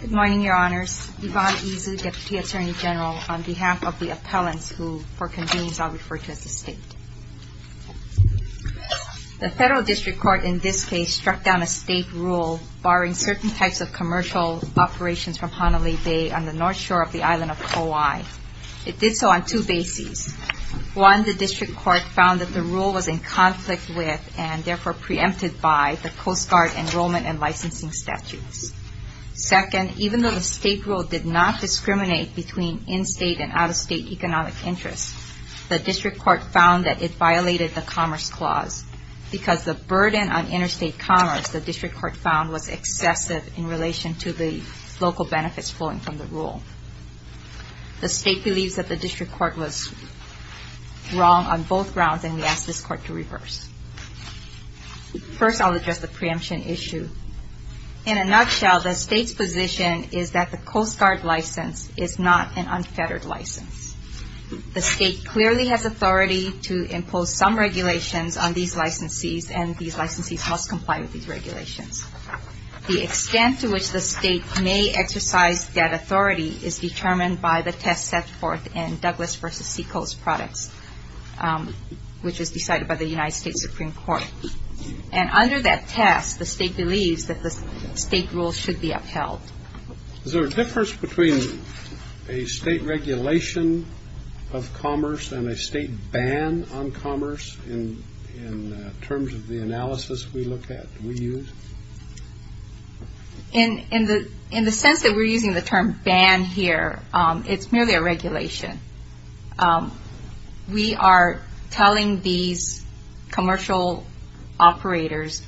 Good morning, Your Honors. Yvonne Izu, Deputy Attorney General, on behalf of the appellants who, for convenience, I'll refer to as the State. The Federal District Court in this case struck down a State rule barring certain types of COI. It did so on two bases. One, the District Court found that the rule was in conflict with, and therefore preempted by, the Coast Guard enrollment and licensing statutes. Second, even though the State rule did not discriminate between in-State and out-of-State economic interests, the District Court found that it violated the Commerce Clause because the burden on interstate commerce, the District Court found, was excessive in relation to the local The State believes that the District Court was wrong on both grounds, and we ask this Court to reverse. First I'll address the preemption issue. In a nutshell, the State's position is that the Coast Guard license is not an unfettered license. The State clearly has authority to impose some regulations on these licensees, and these licensees must comply with these regulations. The extent to which the State may exercise that authority is determined by the test set forth in Douglas v. Seacoast Products, which was decided by the United States Supreme Court. And under that test, the State believes that the State rules should be upheld. Is there a difference between a State regulation of commerce and a State ban on commerce in terms of the analysis we look at, we use? In the sense that we're using the term ban here, it's merely a regulation. We are telling these commercial operators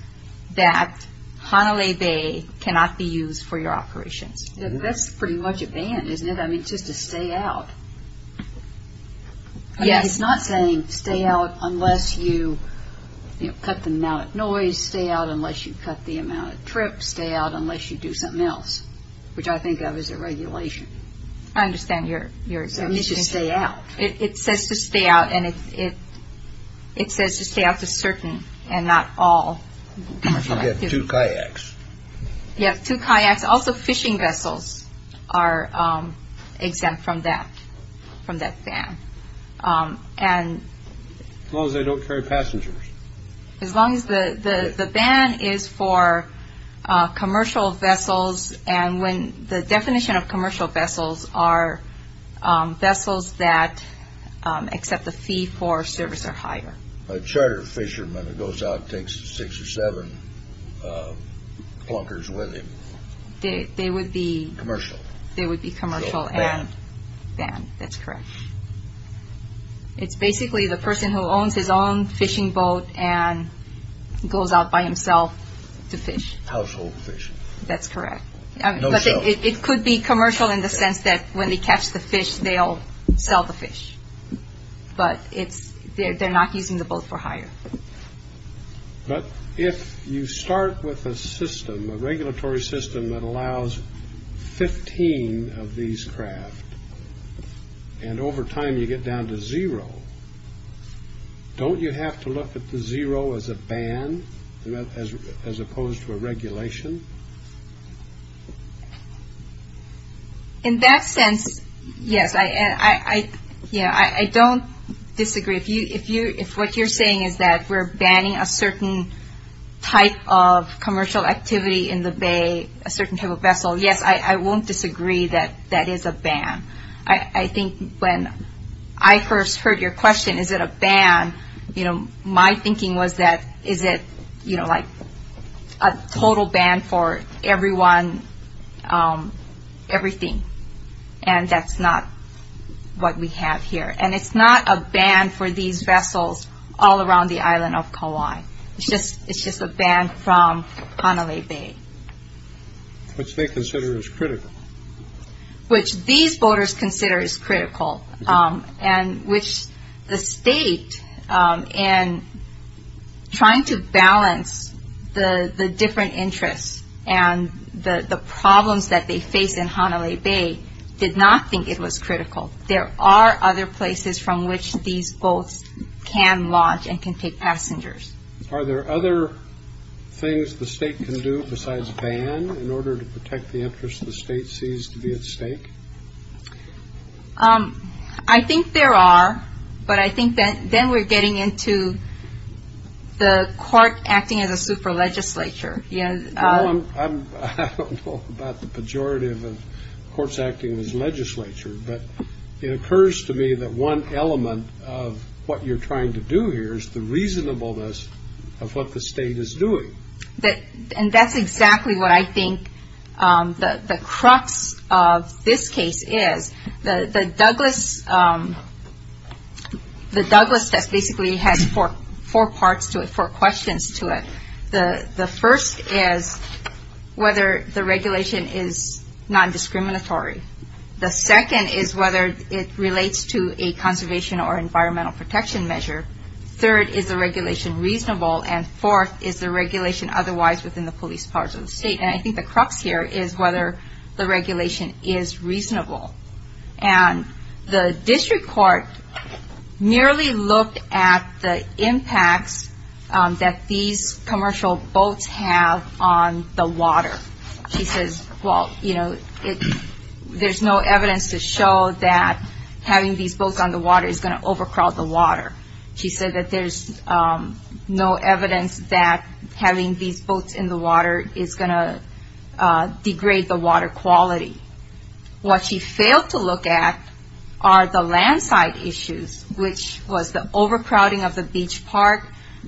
that Hanalei Bay cannot be used for your operations. That's pretty much a ban, isn't it? I mean, just to stay out. Yes. It's not saying stay out unless you cut the amount of noise, stay out unless you cut the amount of trips, stay out unless you do something else, which I think of as a regulation. I understand your assertion. It means to stay out. It says to stay out, and it says to stay out to certain, and not all commercial activities. You have two kayaks. You have two kayaks. Also, fishing vessels are exempt from that, from that ban. As long as they don't carry passengers. As long as the ban is for commercial vessels, and when the definition of commercial vessels are vessels that accept a fee for service or hire. A charter fisherman who goes out and takes six or seven plunkers with him. They would be commercial. They would be commercial and banned. That's correct. It's basically the person who owns his own fishing boat and goes out by himself to fish. Household fishing. That's correct. No sale. It could be commercial in the sense that when they catch the fish, they'll sell the fish. But they're not using the boat for hire. But if you start with a system, a regulatory system that allows 15 of these craft, and over time you get down to zero, don't you have to look at the zero as a ban, as opposed to a regulation? In that sense, yes. I don't disagree. If what you're saying is that we're banning a certain type of commercial activity in the bay, a certain type of vessel, yes, I won't disagree that that is a ban. I think when I first heard your question, is it a ban, my thinking was that is it like a total ban for everyone, everything. And that's not what we have here. And it's not a ban for these vessels all around the island of Kauai. It's just a ban from Hanalei Bay. Which they consider is critical. Which these boaters consider is critical. And which the state, in trying to balance the different interests and the problems that they face in Hanalei Bay, did not think it was critical. There are other places from which these boats can launch and can take passengers. Are there other things the state can do besides ban in order to protect the interests the state sees to be at stake? I think there are. But I think then we're getting into the court acting as a super legislature. I don't know about the pejorative of courts acting as legislature. But it occurs to me that one element of what you're trying to do here is the reasonableness of what the state is doing. And that's exactly what I think the crux of this case is. The Douglas test basically has four parts to it, four questions to it. The first is whether the regulation is non-discriminatory. The second is whether it relates to a conservation or environmental protection measure. Third is the regulation reasonable. And fourth is the regulation otherwise within the police powers of the state. And I think the crux here is whether the regulation is reasonable. And the district court merely looked at the impacts that these commercial boats have on the water. She says, well, you know, there's no evidence to show that having these boats on the water is going to overcrowd the water. She said that there's no evidence that having these boats in the water is going to degrade the water quality. What she failed to look at are the land side issues, which was the overcrowding of the beach park,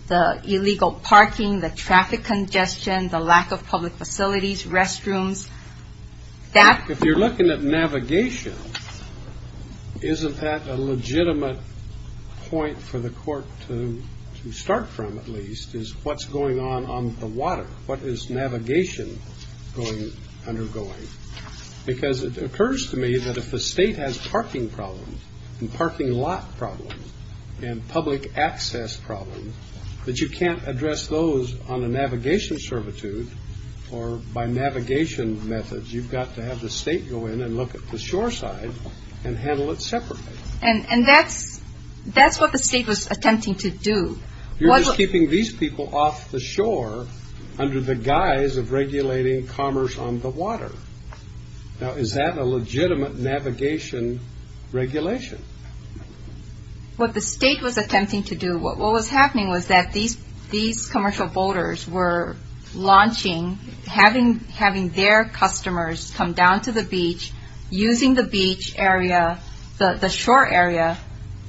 the illegal parking, the traffic congestion, the lack of public facilities, restrooms. If you're looking at navigation, isn't that a legitimate point for the court to start from, at least, is what's going on on the water? What is navigation undergoing? Because it occurs to me that if the state has parking problems and parking lot problems and public access problems, that you can't address those on a navigation servitude or by navigation methods. You've got to have the state go in and look at the shore side and handle it separately. And that's what the state was attempting to do. You're just keeping these people off the shore under the guise of regulating commerce on the water. Now, is that a legitimate navigation regulation? What the state was attempting to do, what was happening was that these commercial boaters were launching, having their customers come down to the beach, using the beach area, the shore area,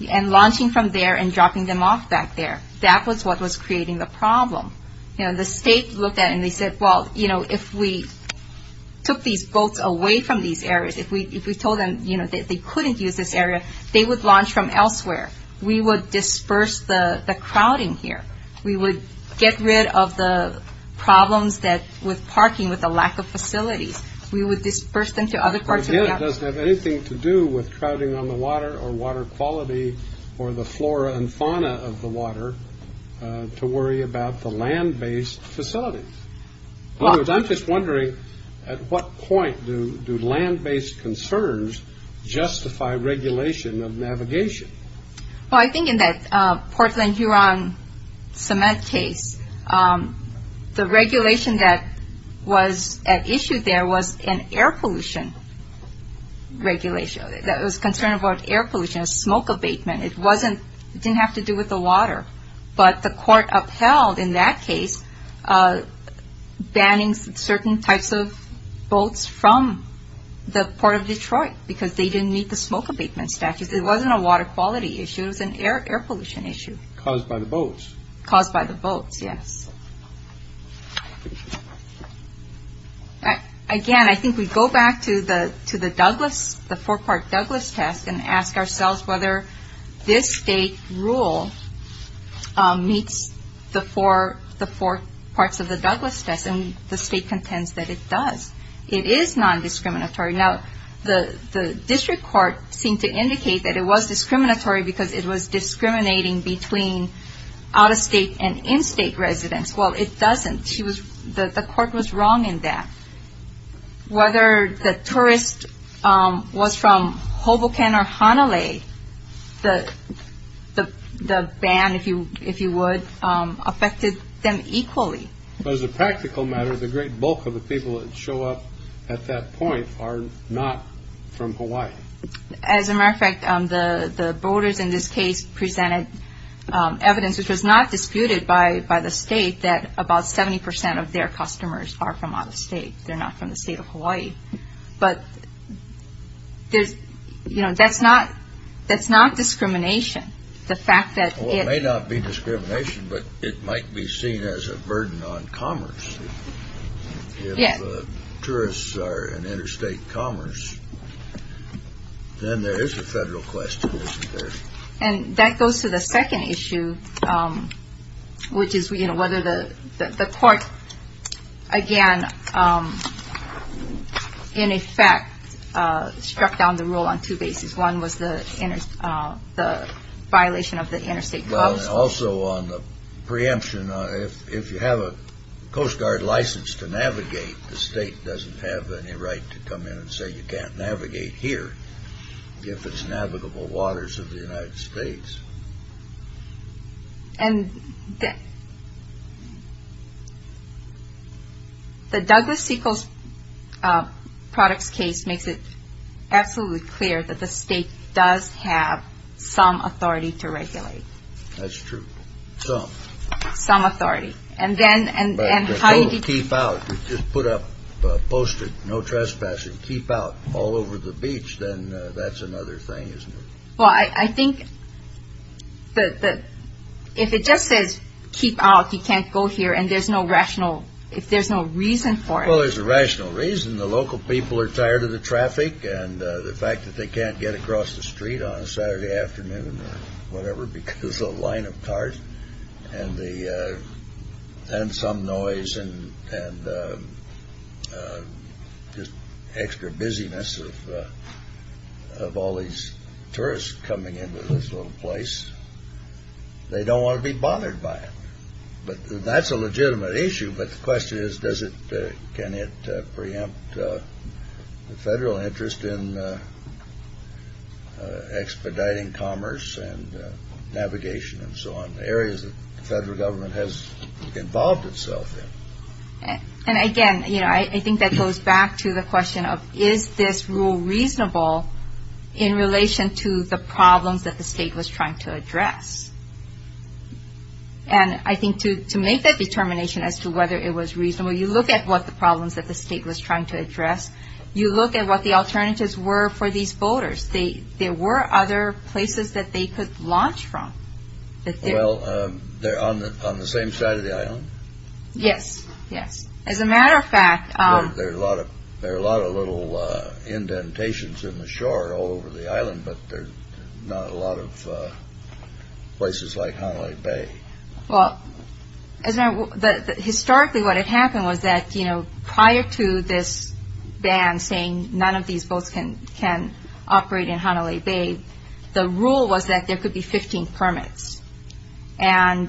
and launching from there and dropping them off back there. That was what was creating the problem. The state looked at it and they said, well, if we took these boats away from these areas, if we told them they couldn't use this area, they would launch from elsewhere. We would disperse the crowding here. We would get rid of the problems with parking, with the lack of facilities. We would disperse them to other parts of the country. Again, it doesn't have anything to do with crowding on the water or water quality or the flora and fauna of the water to worry about the land-based facilities. In other words, I'm just wondering, at what point do land-based concerns justify regulation of navigation? I think in that Portland-Huron cement case, the regulation that was at issue there was an air pollution regulation. It was concerned about air pollution, smoke abatement. But the court upheld, in that case, banning certain types of boats from the Port of Detroit because they didn't meet the smoke abatement statutes. It wasn't a water quality issue. It was an air pollution issue. Caused by the boats. Caused by the boats, yes. Again, I think we go back to the Douglass, the four-part Douglass test, and ask ourselves whether this state rule meets the four parts of the Douglass test. And the state contends that it does. It is non-discriminatory. Now, the district court seemed to indicate that it was discriminatory because it was discriminating between out-of-state and in-state residents. Well, it doesn't. The court was wrong in that. Whether the tourist was from Hoboken or Hanalei, the ban, if you would, affected them equally. But as a practical matter, the great bulk of the people that show up at that point are not from Hawaii. As a matter of fact, the voters in this case presented evidence, which was not disputed by the state, that about 70% of their customers are from out-of-state. They're not from the state of Hawaii. But that's not discrimination. Well, it may not be discrimination, but it might be seen as a burden on commerce. If tourists are in interstate commerce, then there is a federal question, isn't there? And that goes to the second issue, which is whether the court, again, in effect, struck down the rule on two bases. One was the violation of the interstate clubs. Well, and also on the preemption, if you have a Coast Guard license to navigate, the state doesn't have any right to come in and say you can't navigate here if it's navigable waters of the United States. And the Douglas Seacrest Products case makes it absolutely clear that the state does have some authority to regulate. That's true. Some. Some authority. And then how do you keep out? You just put up a poster, no trespassing, and keep out all over the beach, then that's another thing, isn't it? Well, I think that if it just says keep out, you can't go here, and there's no rational, if there's no reason for it. Well, there's a rational reason. The local people are tired of the traffic and the fact that they can't get across the street on a Saturday afternoon or whatever because of the line of cars and some noise and just extra busyness of all these tourists coming into this little place. They don't want to be bothered by it. But that's a legitimate issue. But the question is, can it preempt the federal interest in expediting commerce and navigation and so on, areas that the federal government has involved itself in? And, again, I think that goes back to the question of, is this rule reasonable in relation to the problems that the state was trying to address? And I think to make that determination as to whether it was reasonable, you look at what the alternatives were for these boaters. There were other places that they could launch from. Well, on the same side of the island? Yes, yes. As a matter of fact. There are a lot of little indentations in the shore all over the island, but there are not a lot of places like Hanalei Bay. Historically, what had happened was that prior to this ban saying none of these boats can operate in Hanalei Bay, the rule was that there could be 15 permits. Well,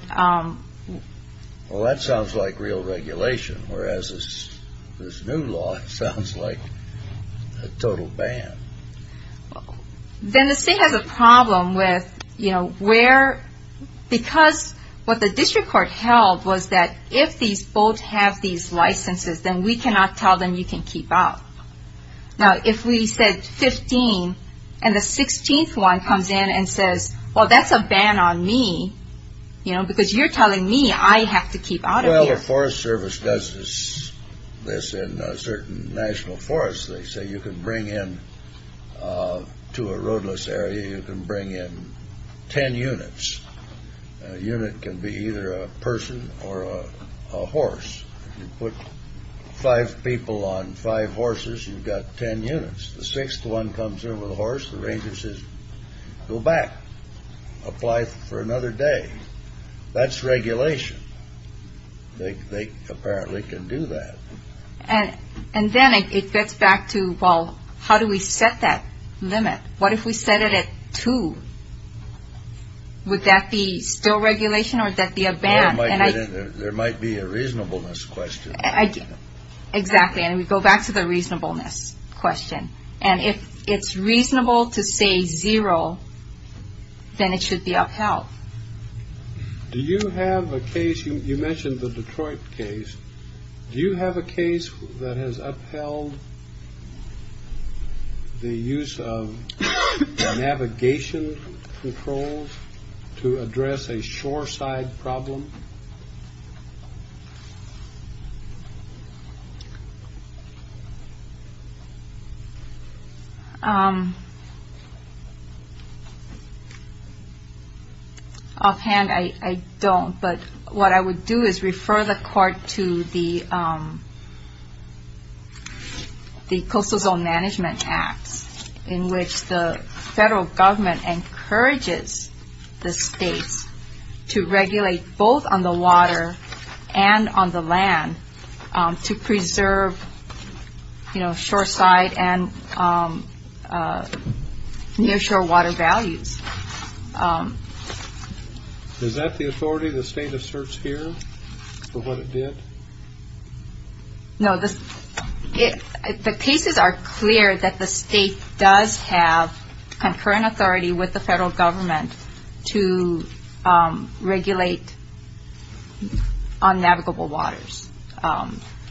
that sounds like real regulation, whereas this new law sounds like a total ban. Then the state has a problem with where, because what the district court held was that if these boats have these licenses, then we cannot tell them you can keep out. Now, if we said 15 and the 16th one comes in and says, well, that's a ban on me because you're telling me I have to keep out of here. Well, the Forest Service does this in certain national forests. They say you can bring in to a roadless area, you can bring in ten units. A unit can be either a person or a horse. You put five people on five horses, you've got ten units. The sixth one comes in with a horse, the ranger says go back, apply for another day. That's regulation. They apparently can do that. And then it gets back to, well, how do we set that limit? What if we set it at two? Would that be still regulation or would that be a ban? There might be a reasonableness question. Exactly, and we go back to the reasonableness question. And if it's reasonable to say zero, then it should be upheld. Do you have a case, you mentioned the Detroit case. Do you have a case that has upheld the use of navigation controls to address a shoreside problem? Offhand, I don't, but what I would do is refer the Court to the Coastal Zone Management Act, in which the federal government encourages the states to regulate both on the water and on the land to preserve, you know, shoreside and nearshore water values. Is that the authority the state asserts here for what it did? No, the cases are clear that the state does have concurrent authority with the federal government to regulate unnavigable waters.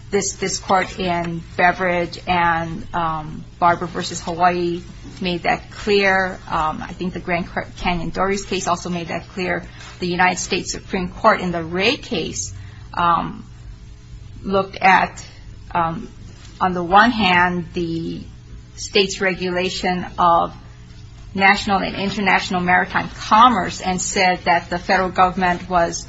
This Court in Beverage and Barber v. Hawaii made that clear. I think the Grand Canyon Dories case also made that clear. The United States Supreme Court in the Ray case looked at, on the one hand, the state's regulation of national and international maritime commerce and said that the federal government was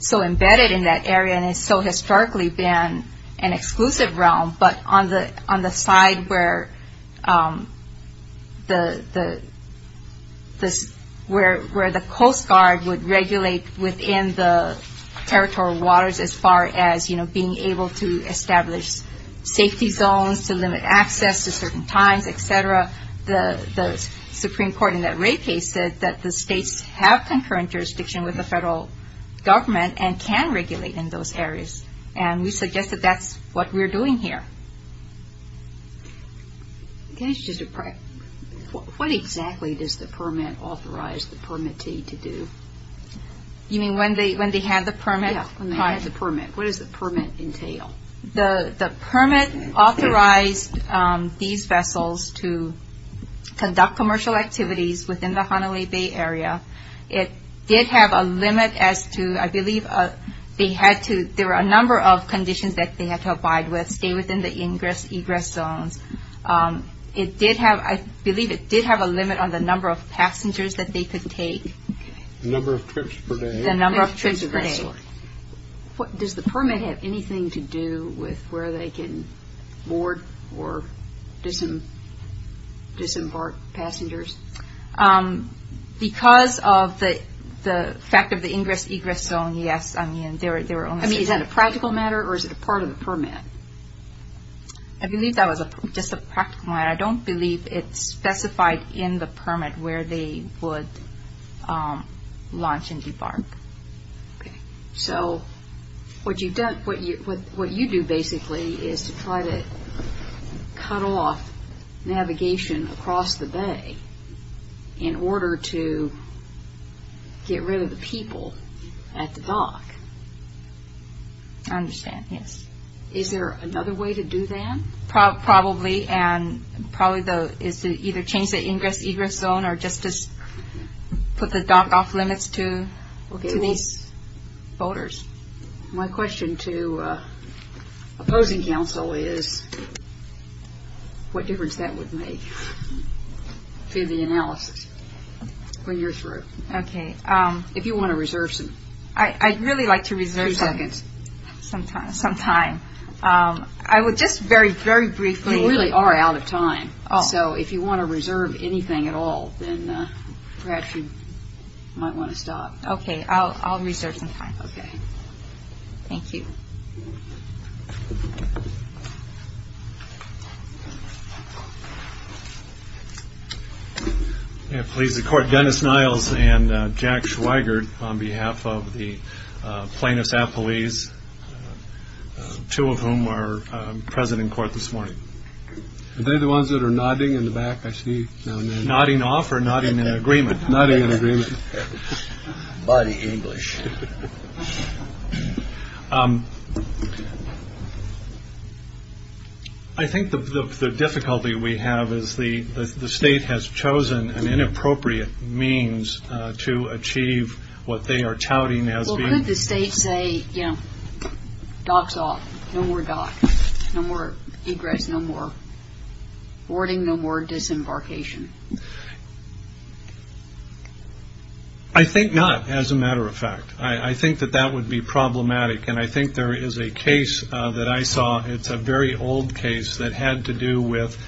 so embedded in that area and so historically been an exclusive realm, but on the side where the Coast Guard would regulate within the territorial waters as far as, you know, being able to establish safety zones to limit access at certain times, et cetera, the Supreme Court in that Ray case said that the states have concurrent jurisdiction with the federal government and can regulate in those areas. And we suggest that that's what we're doing here. What exactly does the permit authorize the permittee to do? You mean when they have the permit? Yeah, when they have the permit. What does the permit entail? The permit authorized these vessels to conduct commercial activities within the Hanalei Bay area. It did have a limit as to, I believe, they had to, there were a number of conditions that they had to abide with, stay within the egress zones. It did have, I believe it did have a limit on the number of passengers that they could take. The number of trips per day. The number of trips per day. Does the permit have anything to do with where they can board or disembark passengers? Because of the fact of the ingress-egress zone, yes. I mean, they were only certain. I mean, is that a practical matter or is it a part of the permit? I believe that was just a practical matter. I don't believe it's specified in the permit where they would launch and debark. Okay, so what you do basically is to try to cut off navigation across the bay in order to get rid of the people at the dock. I understand, yes. Is there another way to do that? Probably, and probably is to either change the ingress-egress zone or just put the dock off limits to these boaters. My question to opposing counsel is what difference that would make to the analysis when you're through. Okay. If you want to reserve some. I'd really like to reserve some. Two seconds. Some time. Some time. I would just very, very briefly. You really are out of time. Oh. So if you want to reserve anything at all, then perhaps you might want to stop. Okay, I'll reserve some time. Okay. Thank you. Please, the Court. Dennis Niles and Jack Schweigert on behalf of the plaintiffs' appellees, two of whom are present in court this morning. Are they the ones that are nodding in the back? I see nodding off or nodding in agreement. Nodding in agreement. Buddy English. I think the difficulty we have is the state has chosen an inappropriate means to achieve what they are touting as being. Would the state say, you know, docks off. No more dock. No more egress. No more boarding. No more disembarkation. I think not, as a matter of fact. I think that that would be problematic, and I think there is a case that I saw. It's a very old case that had to do with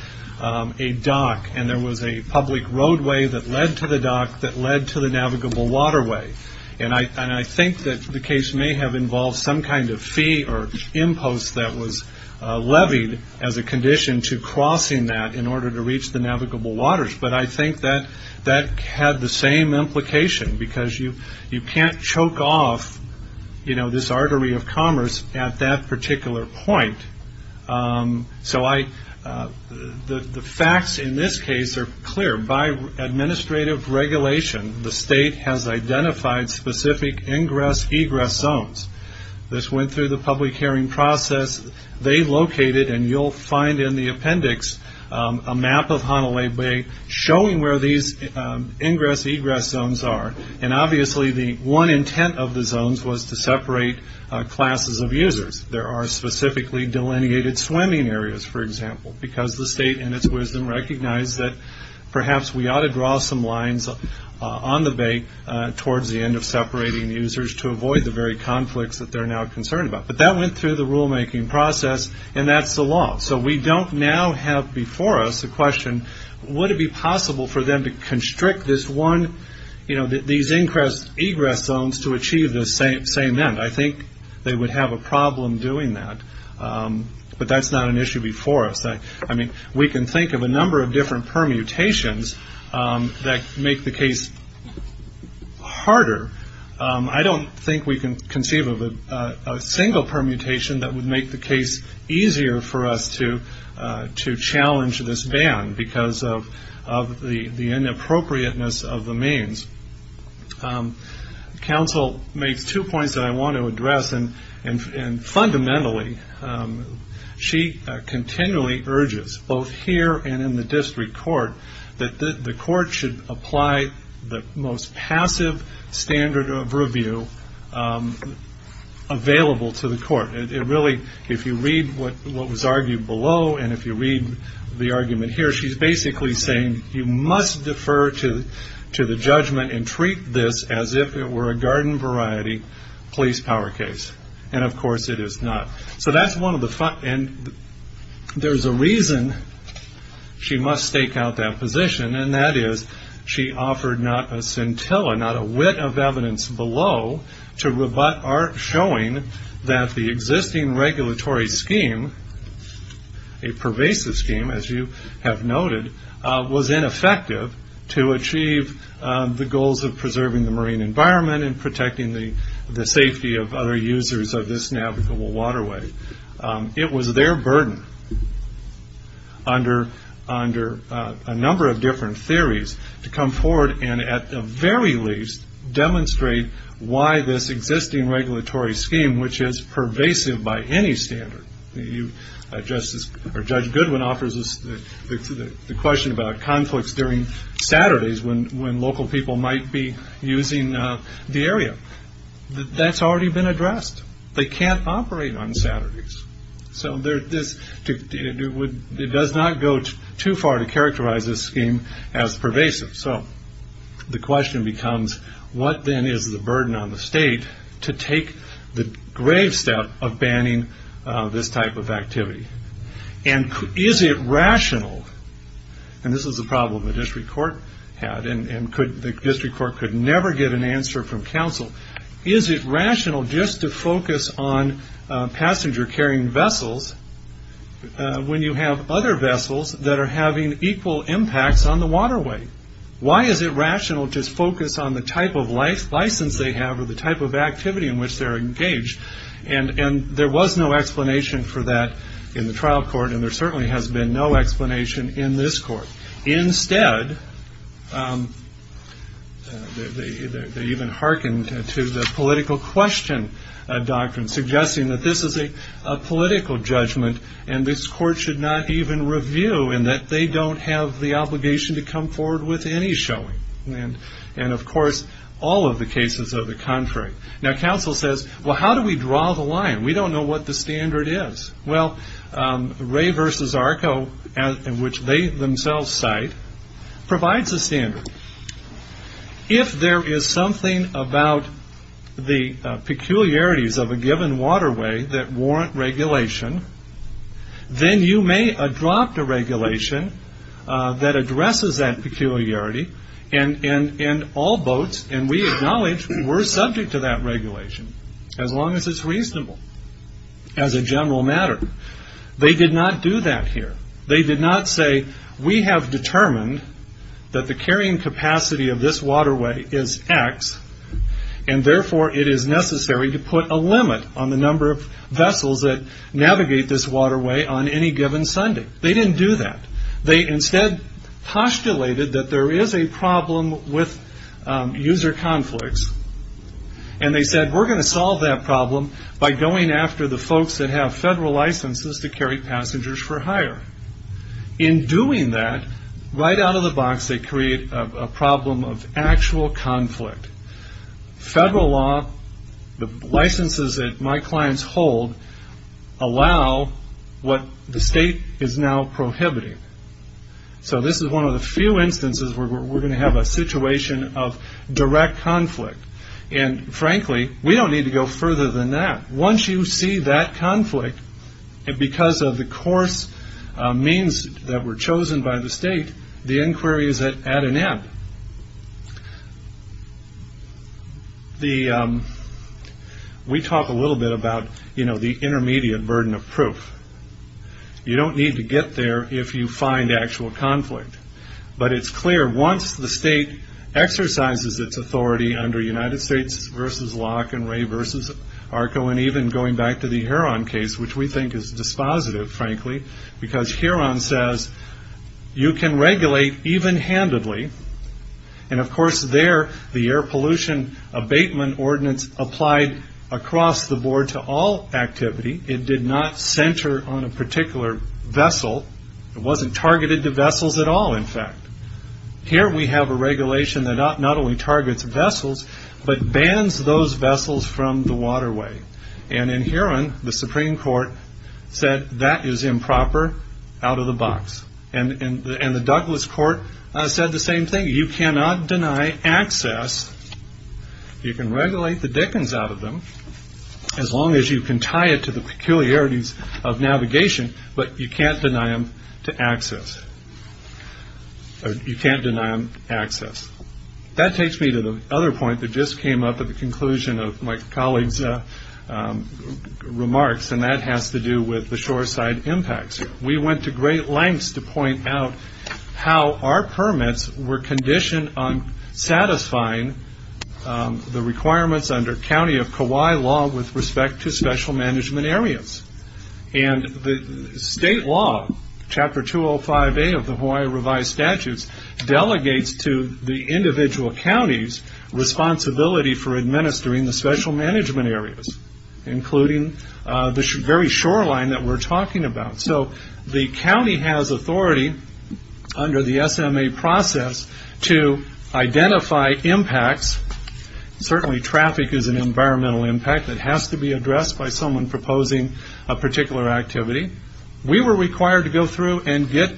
a dock, and there was a public roadway that led to the dock that led to the navigable waterway. And I think that the case may have involved some kind of fee or impost that was levied as a condition to crossing that in order to reach the navigable waters, but I think that that had the same implication because you can't choke off, you know, this artery of commerce at that particular point. So the facts in this case are clear. By administrative regulation, the state has identified specific ingress-egress zones. This went through the public hearing process. They located, and you'll find in the appendix, a map of Hanalei Bay showing where these ingress-egress zones are, and obviously the one intent of the zones was to separate classes of users. There are specifically delineated swimming areas, for example, because the state, in its wisdom, recognized that perhaps we ought to draw some lines on the bay towards the end of separating users to avoid the very conflicts that they're now concerned about. But that went through the rulemaking process, and that's the law. So we don't now have before us a question, would it be possible for them to constrict this one, you know, these ingress zones to achieve the same end? I think they would have a problem doing that, but that's not an issue before us. I mean, we can think of a number of different permutations that make the case harder. I don't think we can conceive of a single permutation that would make the case easier for us to challenge this ban because of the inappropriateness of the means. Counsel makes two points that I want to address, and fundamentally she continually urges both here and in the district court that the court should apply the most passive standard of review available to the court. It really, if you read what was argued below and if you read the argument here, she's basically saying you must defer to the judgment and treat this as if it were a garden variety police power case. And of course it is not. So that's one of the fun, and there's a reason she must stake out that position, and that is she offered not a scintilla, not a wit of evidence below, to rebut our showing that the existing regulatory scheme, a pervasive scheme as you have noted, was ineffective to achieve the goals of preserving the marine environment and protecting the safety of other users of this navigable waterway. It was their burden under a number of different theories to come forward and at the very least demonstrate why this existing regulatory scheme, which is pervasive by any standard. Judge Goodwin offers us the question about conflicts during Saturdays when local people might be using the area. That's already been addressed. They can't operate on Saturdays. So it does not go too far to characterize this scheme as pervasive. So the question becomes, what then is the burden on the state to take the grave step of banning this type of activity? And is it rational, and this is a problem the district court had, and the district court could never get an answer from counsel, is it rational just to focus on passenger carrying vessels when you have other vessels that are having equal impacts on the waterway? Why is it rational to focus on the type of license they have or the type of activity in which they're engaged? And there was no explanation for that in the trial court, and there certainly has been no explanation in this court. Instead, they even hearkened to the political question doctrine, suggesting that this is a political judgment and this court should not even review and that they don't have the obligation to come forward with any showing. And, of course, all of the cases are the contrary. Now, counsel says, well, how do we draw the line? We don't know what the standard is. Well, Ray v. Arco, which they themselves cite, provides a standard. If there is something about the peculiarities of a given waterway that warrant regulation, then you may adopt a regulation that addresses that peculiarity, and all boats, and we acknowledge we're subject to that regulation, as long as it's reasonable as a general matter. They did not do that here. They did not say, we have determined that the carrying capacity of this waterway is X, and therefore it is necessary to put a limit on the number of vessels that navigate this waterway on any given Sunday. They didn't do that. They instead postulated that there is a problem with user conflicts, and they said, we're going to solve that problem by going after the folks that have federal licenses to carry passengers for hire. In doing that, right out of the box, they create a problem of actual conflict. Federal law, the licenses that my clients hold, allow what the state is now prohibiting. So this is one of the few instances where we're going to have a situation of direct conflict, and frankly, we don't need to go further than that. Once you see that conflict, because of the course means that were chosen by the state, the inquiry is at an end. We talk a little bit about the intermediate burden of proof. You don't need to get there if you find actual conflict. But it's clear, once the state exercises its authority under United States v. Locke and Ray v. Arco, and even going back to the Huron case, which we think is dispositive, frankly, because Huron says, you can regulate even-handedly, and of course there, the air pollution abatement ordinance applied across the board to all activity. It did not center on a particular vessel. It wasn't targeted to vessels at all, in fact. Here we have a regulation that not only targets vessels, but bans those vessels from the waterway. And in Huron, the Supreme Court said, that is improper, out of the box. And the Douglas Court said the same thing. You cannot deny access. You can regulate the dickens out of them, as long as you can tie it to the peculiarities of navigation, but you can't deny them to access. You can't deny them access. That takes me to the other point that just came up at the conclusion of my colleague's remarks, and that has to do with the shoreside impacts. We went to great lengths to point out how our permits were conditioned on satisfying the requirements under county of Kauai law with respect to special management areas. And the state law, Chapter 205A of the Hawaii revised statutes, delegates to the individual counties responsibility for administering the special management areas, including the very shoreline that we're talking about. So the county has authority under the SMA process to identify impacts. Certainly traffic is an environmental impact that has to be addressed by someone proposing a particular activity. We were required to go through and get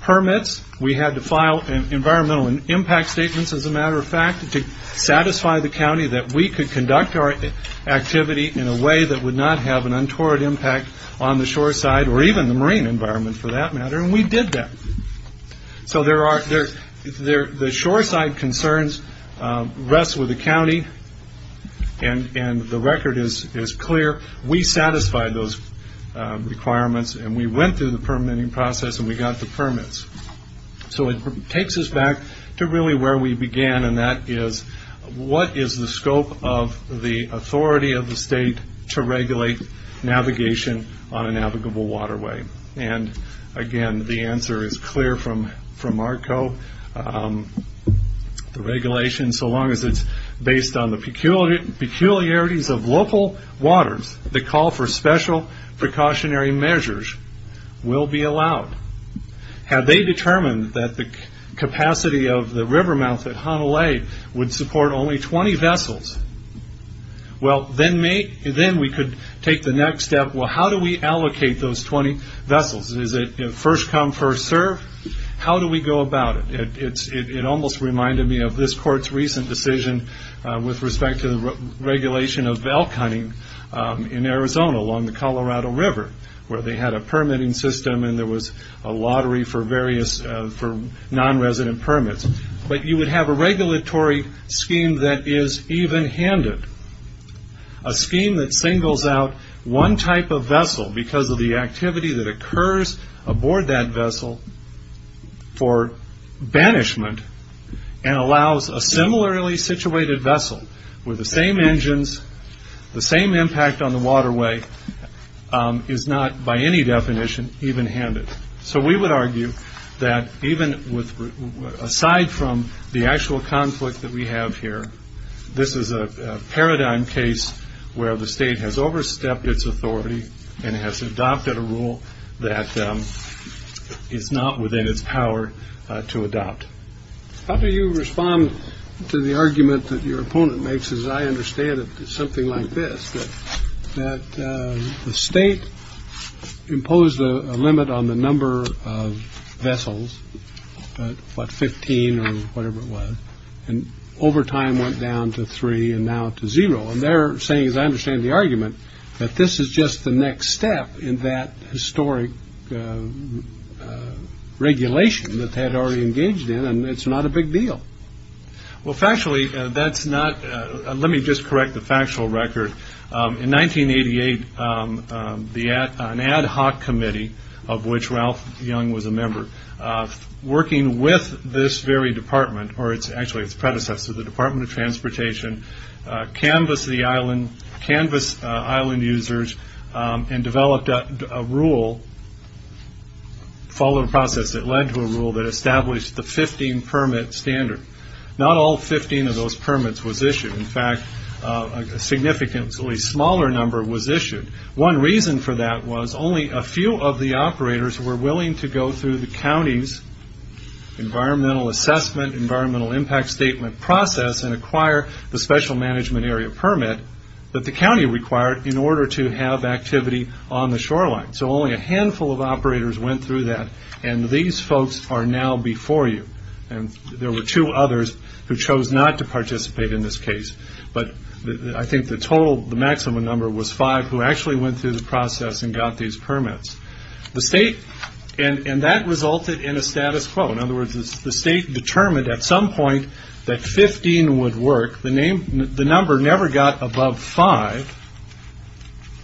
permits. We had to file environmental impact statements, as a matter of fact, to satisfy the county that we could conduct our activity in a way that would not have an untoward impact on the shoreside or even the marine environment, for that matter. And we did that. So the shoreside concerns rest with the county, and the record is clear. We satisfied those requirements, and we went through the permitting process, and we got the permits. So it takes us back to really where we began, and that is what is the scope of the authority of the state to regulate navigation on a navigable waterway? And again, the answer is clear from our co-regulation. So long as it's based on the peculiarities of local waters, the call for special precautionary measures will be allowed. Had they determined that the capacity of the river mouth at Hanalei would support only 20 vessels, well, then we could take the next step. Well, how do we allocate those 20 vessels? Is it first come, first serve? How do we go about it? It almost reminded me of this court's recent decision with respect to the regulation of elk hunting in Arizona along the Colorado River, where they had a permitting system, and there was a lottery for various non-resident permits. But you would have a regulatory scheme that is even-handed, a scheme that singles out one type of vessel because of the activity that occurs aboard that vessel for banishment and allows a similarly situated vessel with the same engines, the same impact on the waterway, is not by any definition even-handed. So we would argue that even aside from the actual conflict that we have here, this is a paradigm case where the state has overstepped its authority and has adopted a rule that is not within its power to adopt. How do you respond to the argument that your opponent makes? As I understand it, it's something like this, that the state imposed a limit on the number of vessels, what, 15 or whatever it was, and over time went down to three and now to zero. And they're saying, as I understand the argument, that this is just the next step in that historic regulation that they had already engaged in, and it's not a big deal. Well, factually, let me just correct the factual record. In 1988, an ad hoc committee, of which Ralph Young was a member, working with this very department, or actually its predecessor, the Department of Transportation, canvassed the island, canvassed island users, and developed a rule, following a process that led to a rule, that established the 15-permit standard. Not all 15 of those permits was issued. In fact, a significantly smaller number was issued. One reason for that was only a few of the operators were willing to go through the county's environmental assessment, environmental impact statement process, and acquire the special management area permit that the county required in order to have activity on the shoreline. So only a handful of operators went through that, and these folks are now before you. And there were two others who chose not to participate in this case, but I think the maximum number was five who actually went through the process and got these permits. And that resulted in a status quo. In other words, the state determined at some point that 15 would work. The number never got above five,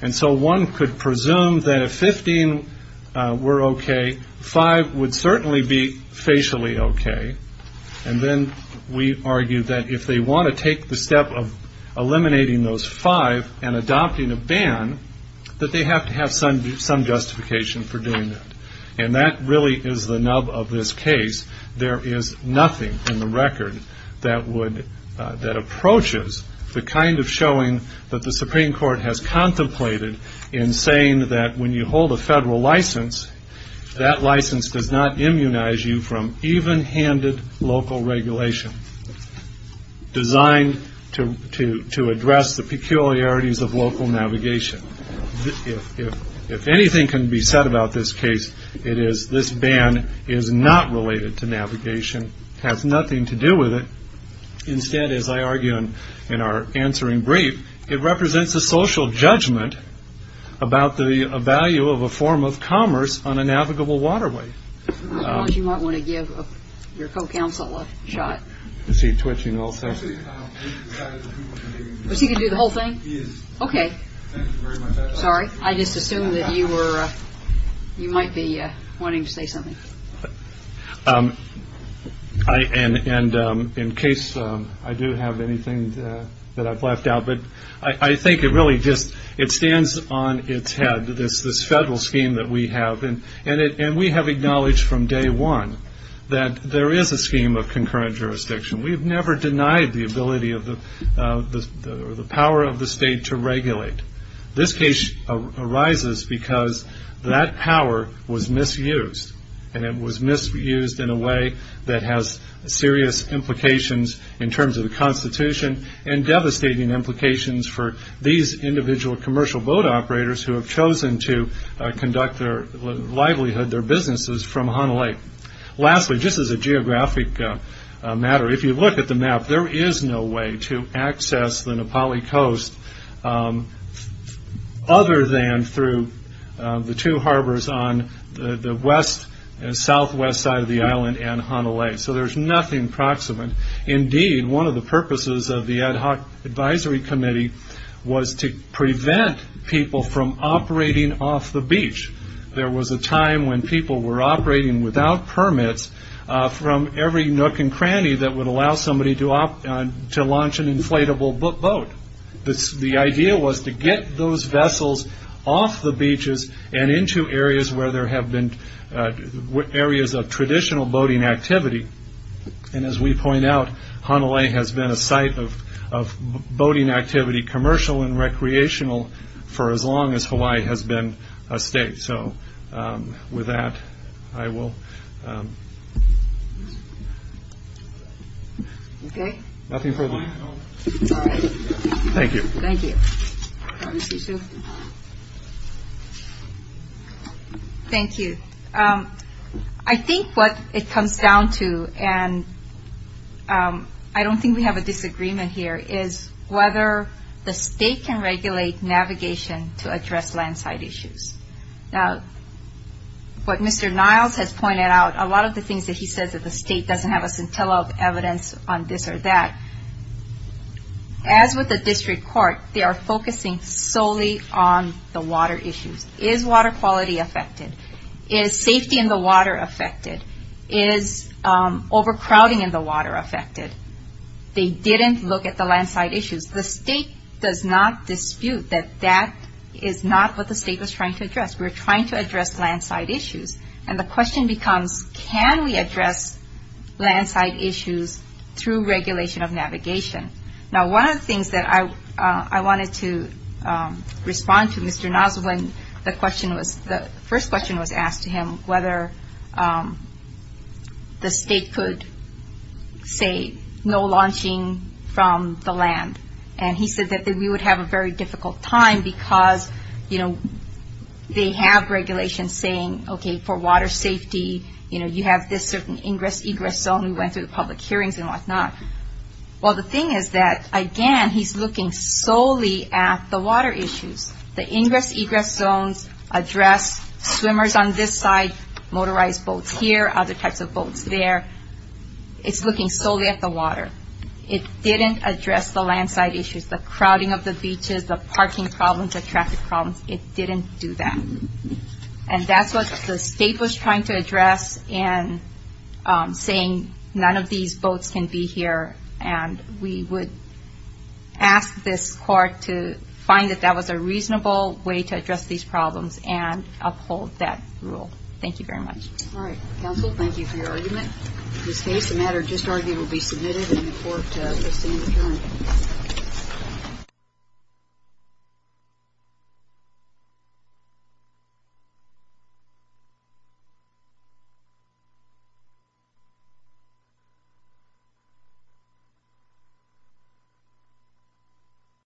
and so one could presume that if 15 were okay, five would certainly be facially okay. And then we argued that if they want to take the step of eliminating those five and adopting a ban, that they have to have some justification for doing that. And that really is the nub of this case. There is nothing in the record that approaches the kind of showing that the Supreme Court has contemplated in saying that when you hold a federal license, that license does not immunize you from even-handed local regulation designed to address the peculiarities of local navigation. If anything can be said about this case, it is this ban is not related to navigation, has nothing to do with it. Instead, as I argue in our answering brief, it represents a social judgment about the value of a form of commerce on a navigable waterway. You might want to give your co-counsel a shot. Is he twitching also? Is he going to do the whole thing? Okay. Sorry. I just assumed that you might be wanting to say something. And in case I do have anything that I've left out, but I think it really just stands on its head, this federal scheme that we have. And we have acknowledged from day one that there is a scheme of concurrent jurisdiction. We have never denied the ability or the power of the state to regulate. This case arises because that power was misused, and it was misused in a way that has serious implications in terms of the Constitution and devastating implications for these individual commercial boat operators who have chosen to conduct their livelihood, their businesses, from Hanalei. Lastly, just as a geographic matter, if you look at the map, there is no way to access the Nepali coast other than through the two harbors on the southwest side of the island and Hanalei. So there's nothing proximate. Indeed, one of the purposes of the Ad Hoc Advisory Committee was to prevent people from operating off the beach. There was a time when people were operating without permits from every nook and cranny that would allow somebody to launch an inflatable boat. The idea was to get those vessels off the beaches and into areas of traditional boating activity. As we point out, Hanalei has been a site of boating activity, commercial and recreational, for as long as Hawaii has been a state. So with that, I will... Okay. Thank you. Thank you. Thank you. I think what it comes down to, and I don't think we have a disagreement here, is whether the state can regulate navigation to address landslide issues. Now, what Mr. Niles has pointed out, a lot of the things that he says that the state doesn't have a scintilla of evidence on this or that, as with the district court, they are focusing solely on the water issues. Is water quality affected? Is safety in the water affected? Is overcrowding in the water affected? They didn't look at the landslide issues. The state does not dispute that that is not what the state was trying to address. We were trying to address landslide issues. And the question becomes, can we address landslide issues through regulation of navigation? Now, one of the things that I wanted to respond to, Mr. Niles, was when the first question was asked to him whether the state could say no launching from the land. And he said that we would have a very difficult time because, you know, they have regulations saying, okay, for water safety, you know, you have this certain ingress, egress zone. We went through the public hearings and whatnot. Well, the thing is that, again, he's looking solely at the water issues. The ingress, egress zones address swimmers on this side, motorized boats here, other types of boats there. It's looking solely at the water. It didn't address the landslide issues, the crowding of the beaches, the parking problems, the traffic problems. It didn't do that. And that's what the state was trying to address in saying none of these boats can be here. And we would ask this court to find that that was a reasonable way to address these problems and uphold that rule. Thank you very much. All right. Counsel, thank you for your argument. In this case, the matter just argued will be submitted and the court will stand adjourned. Thank you.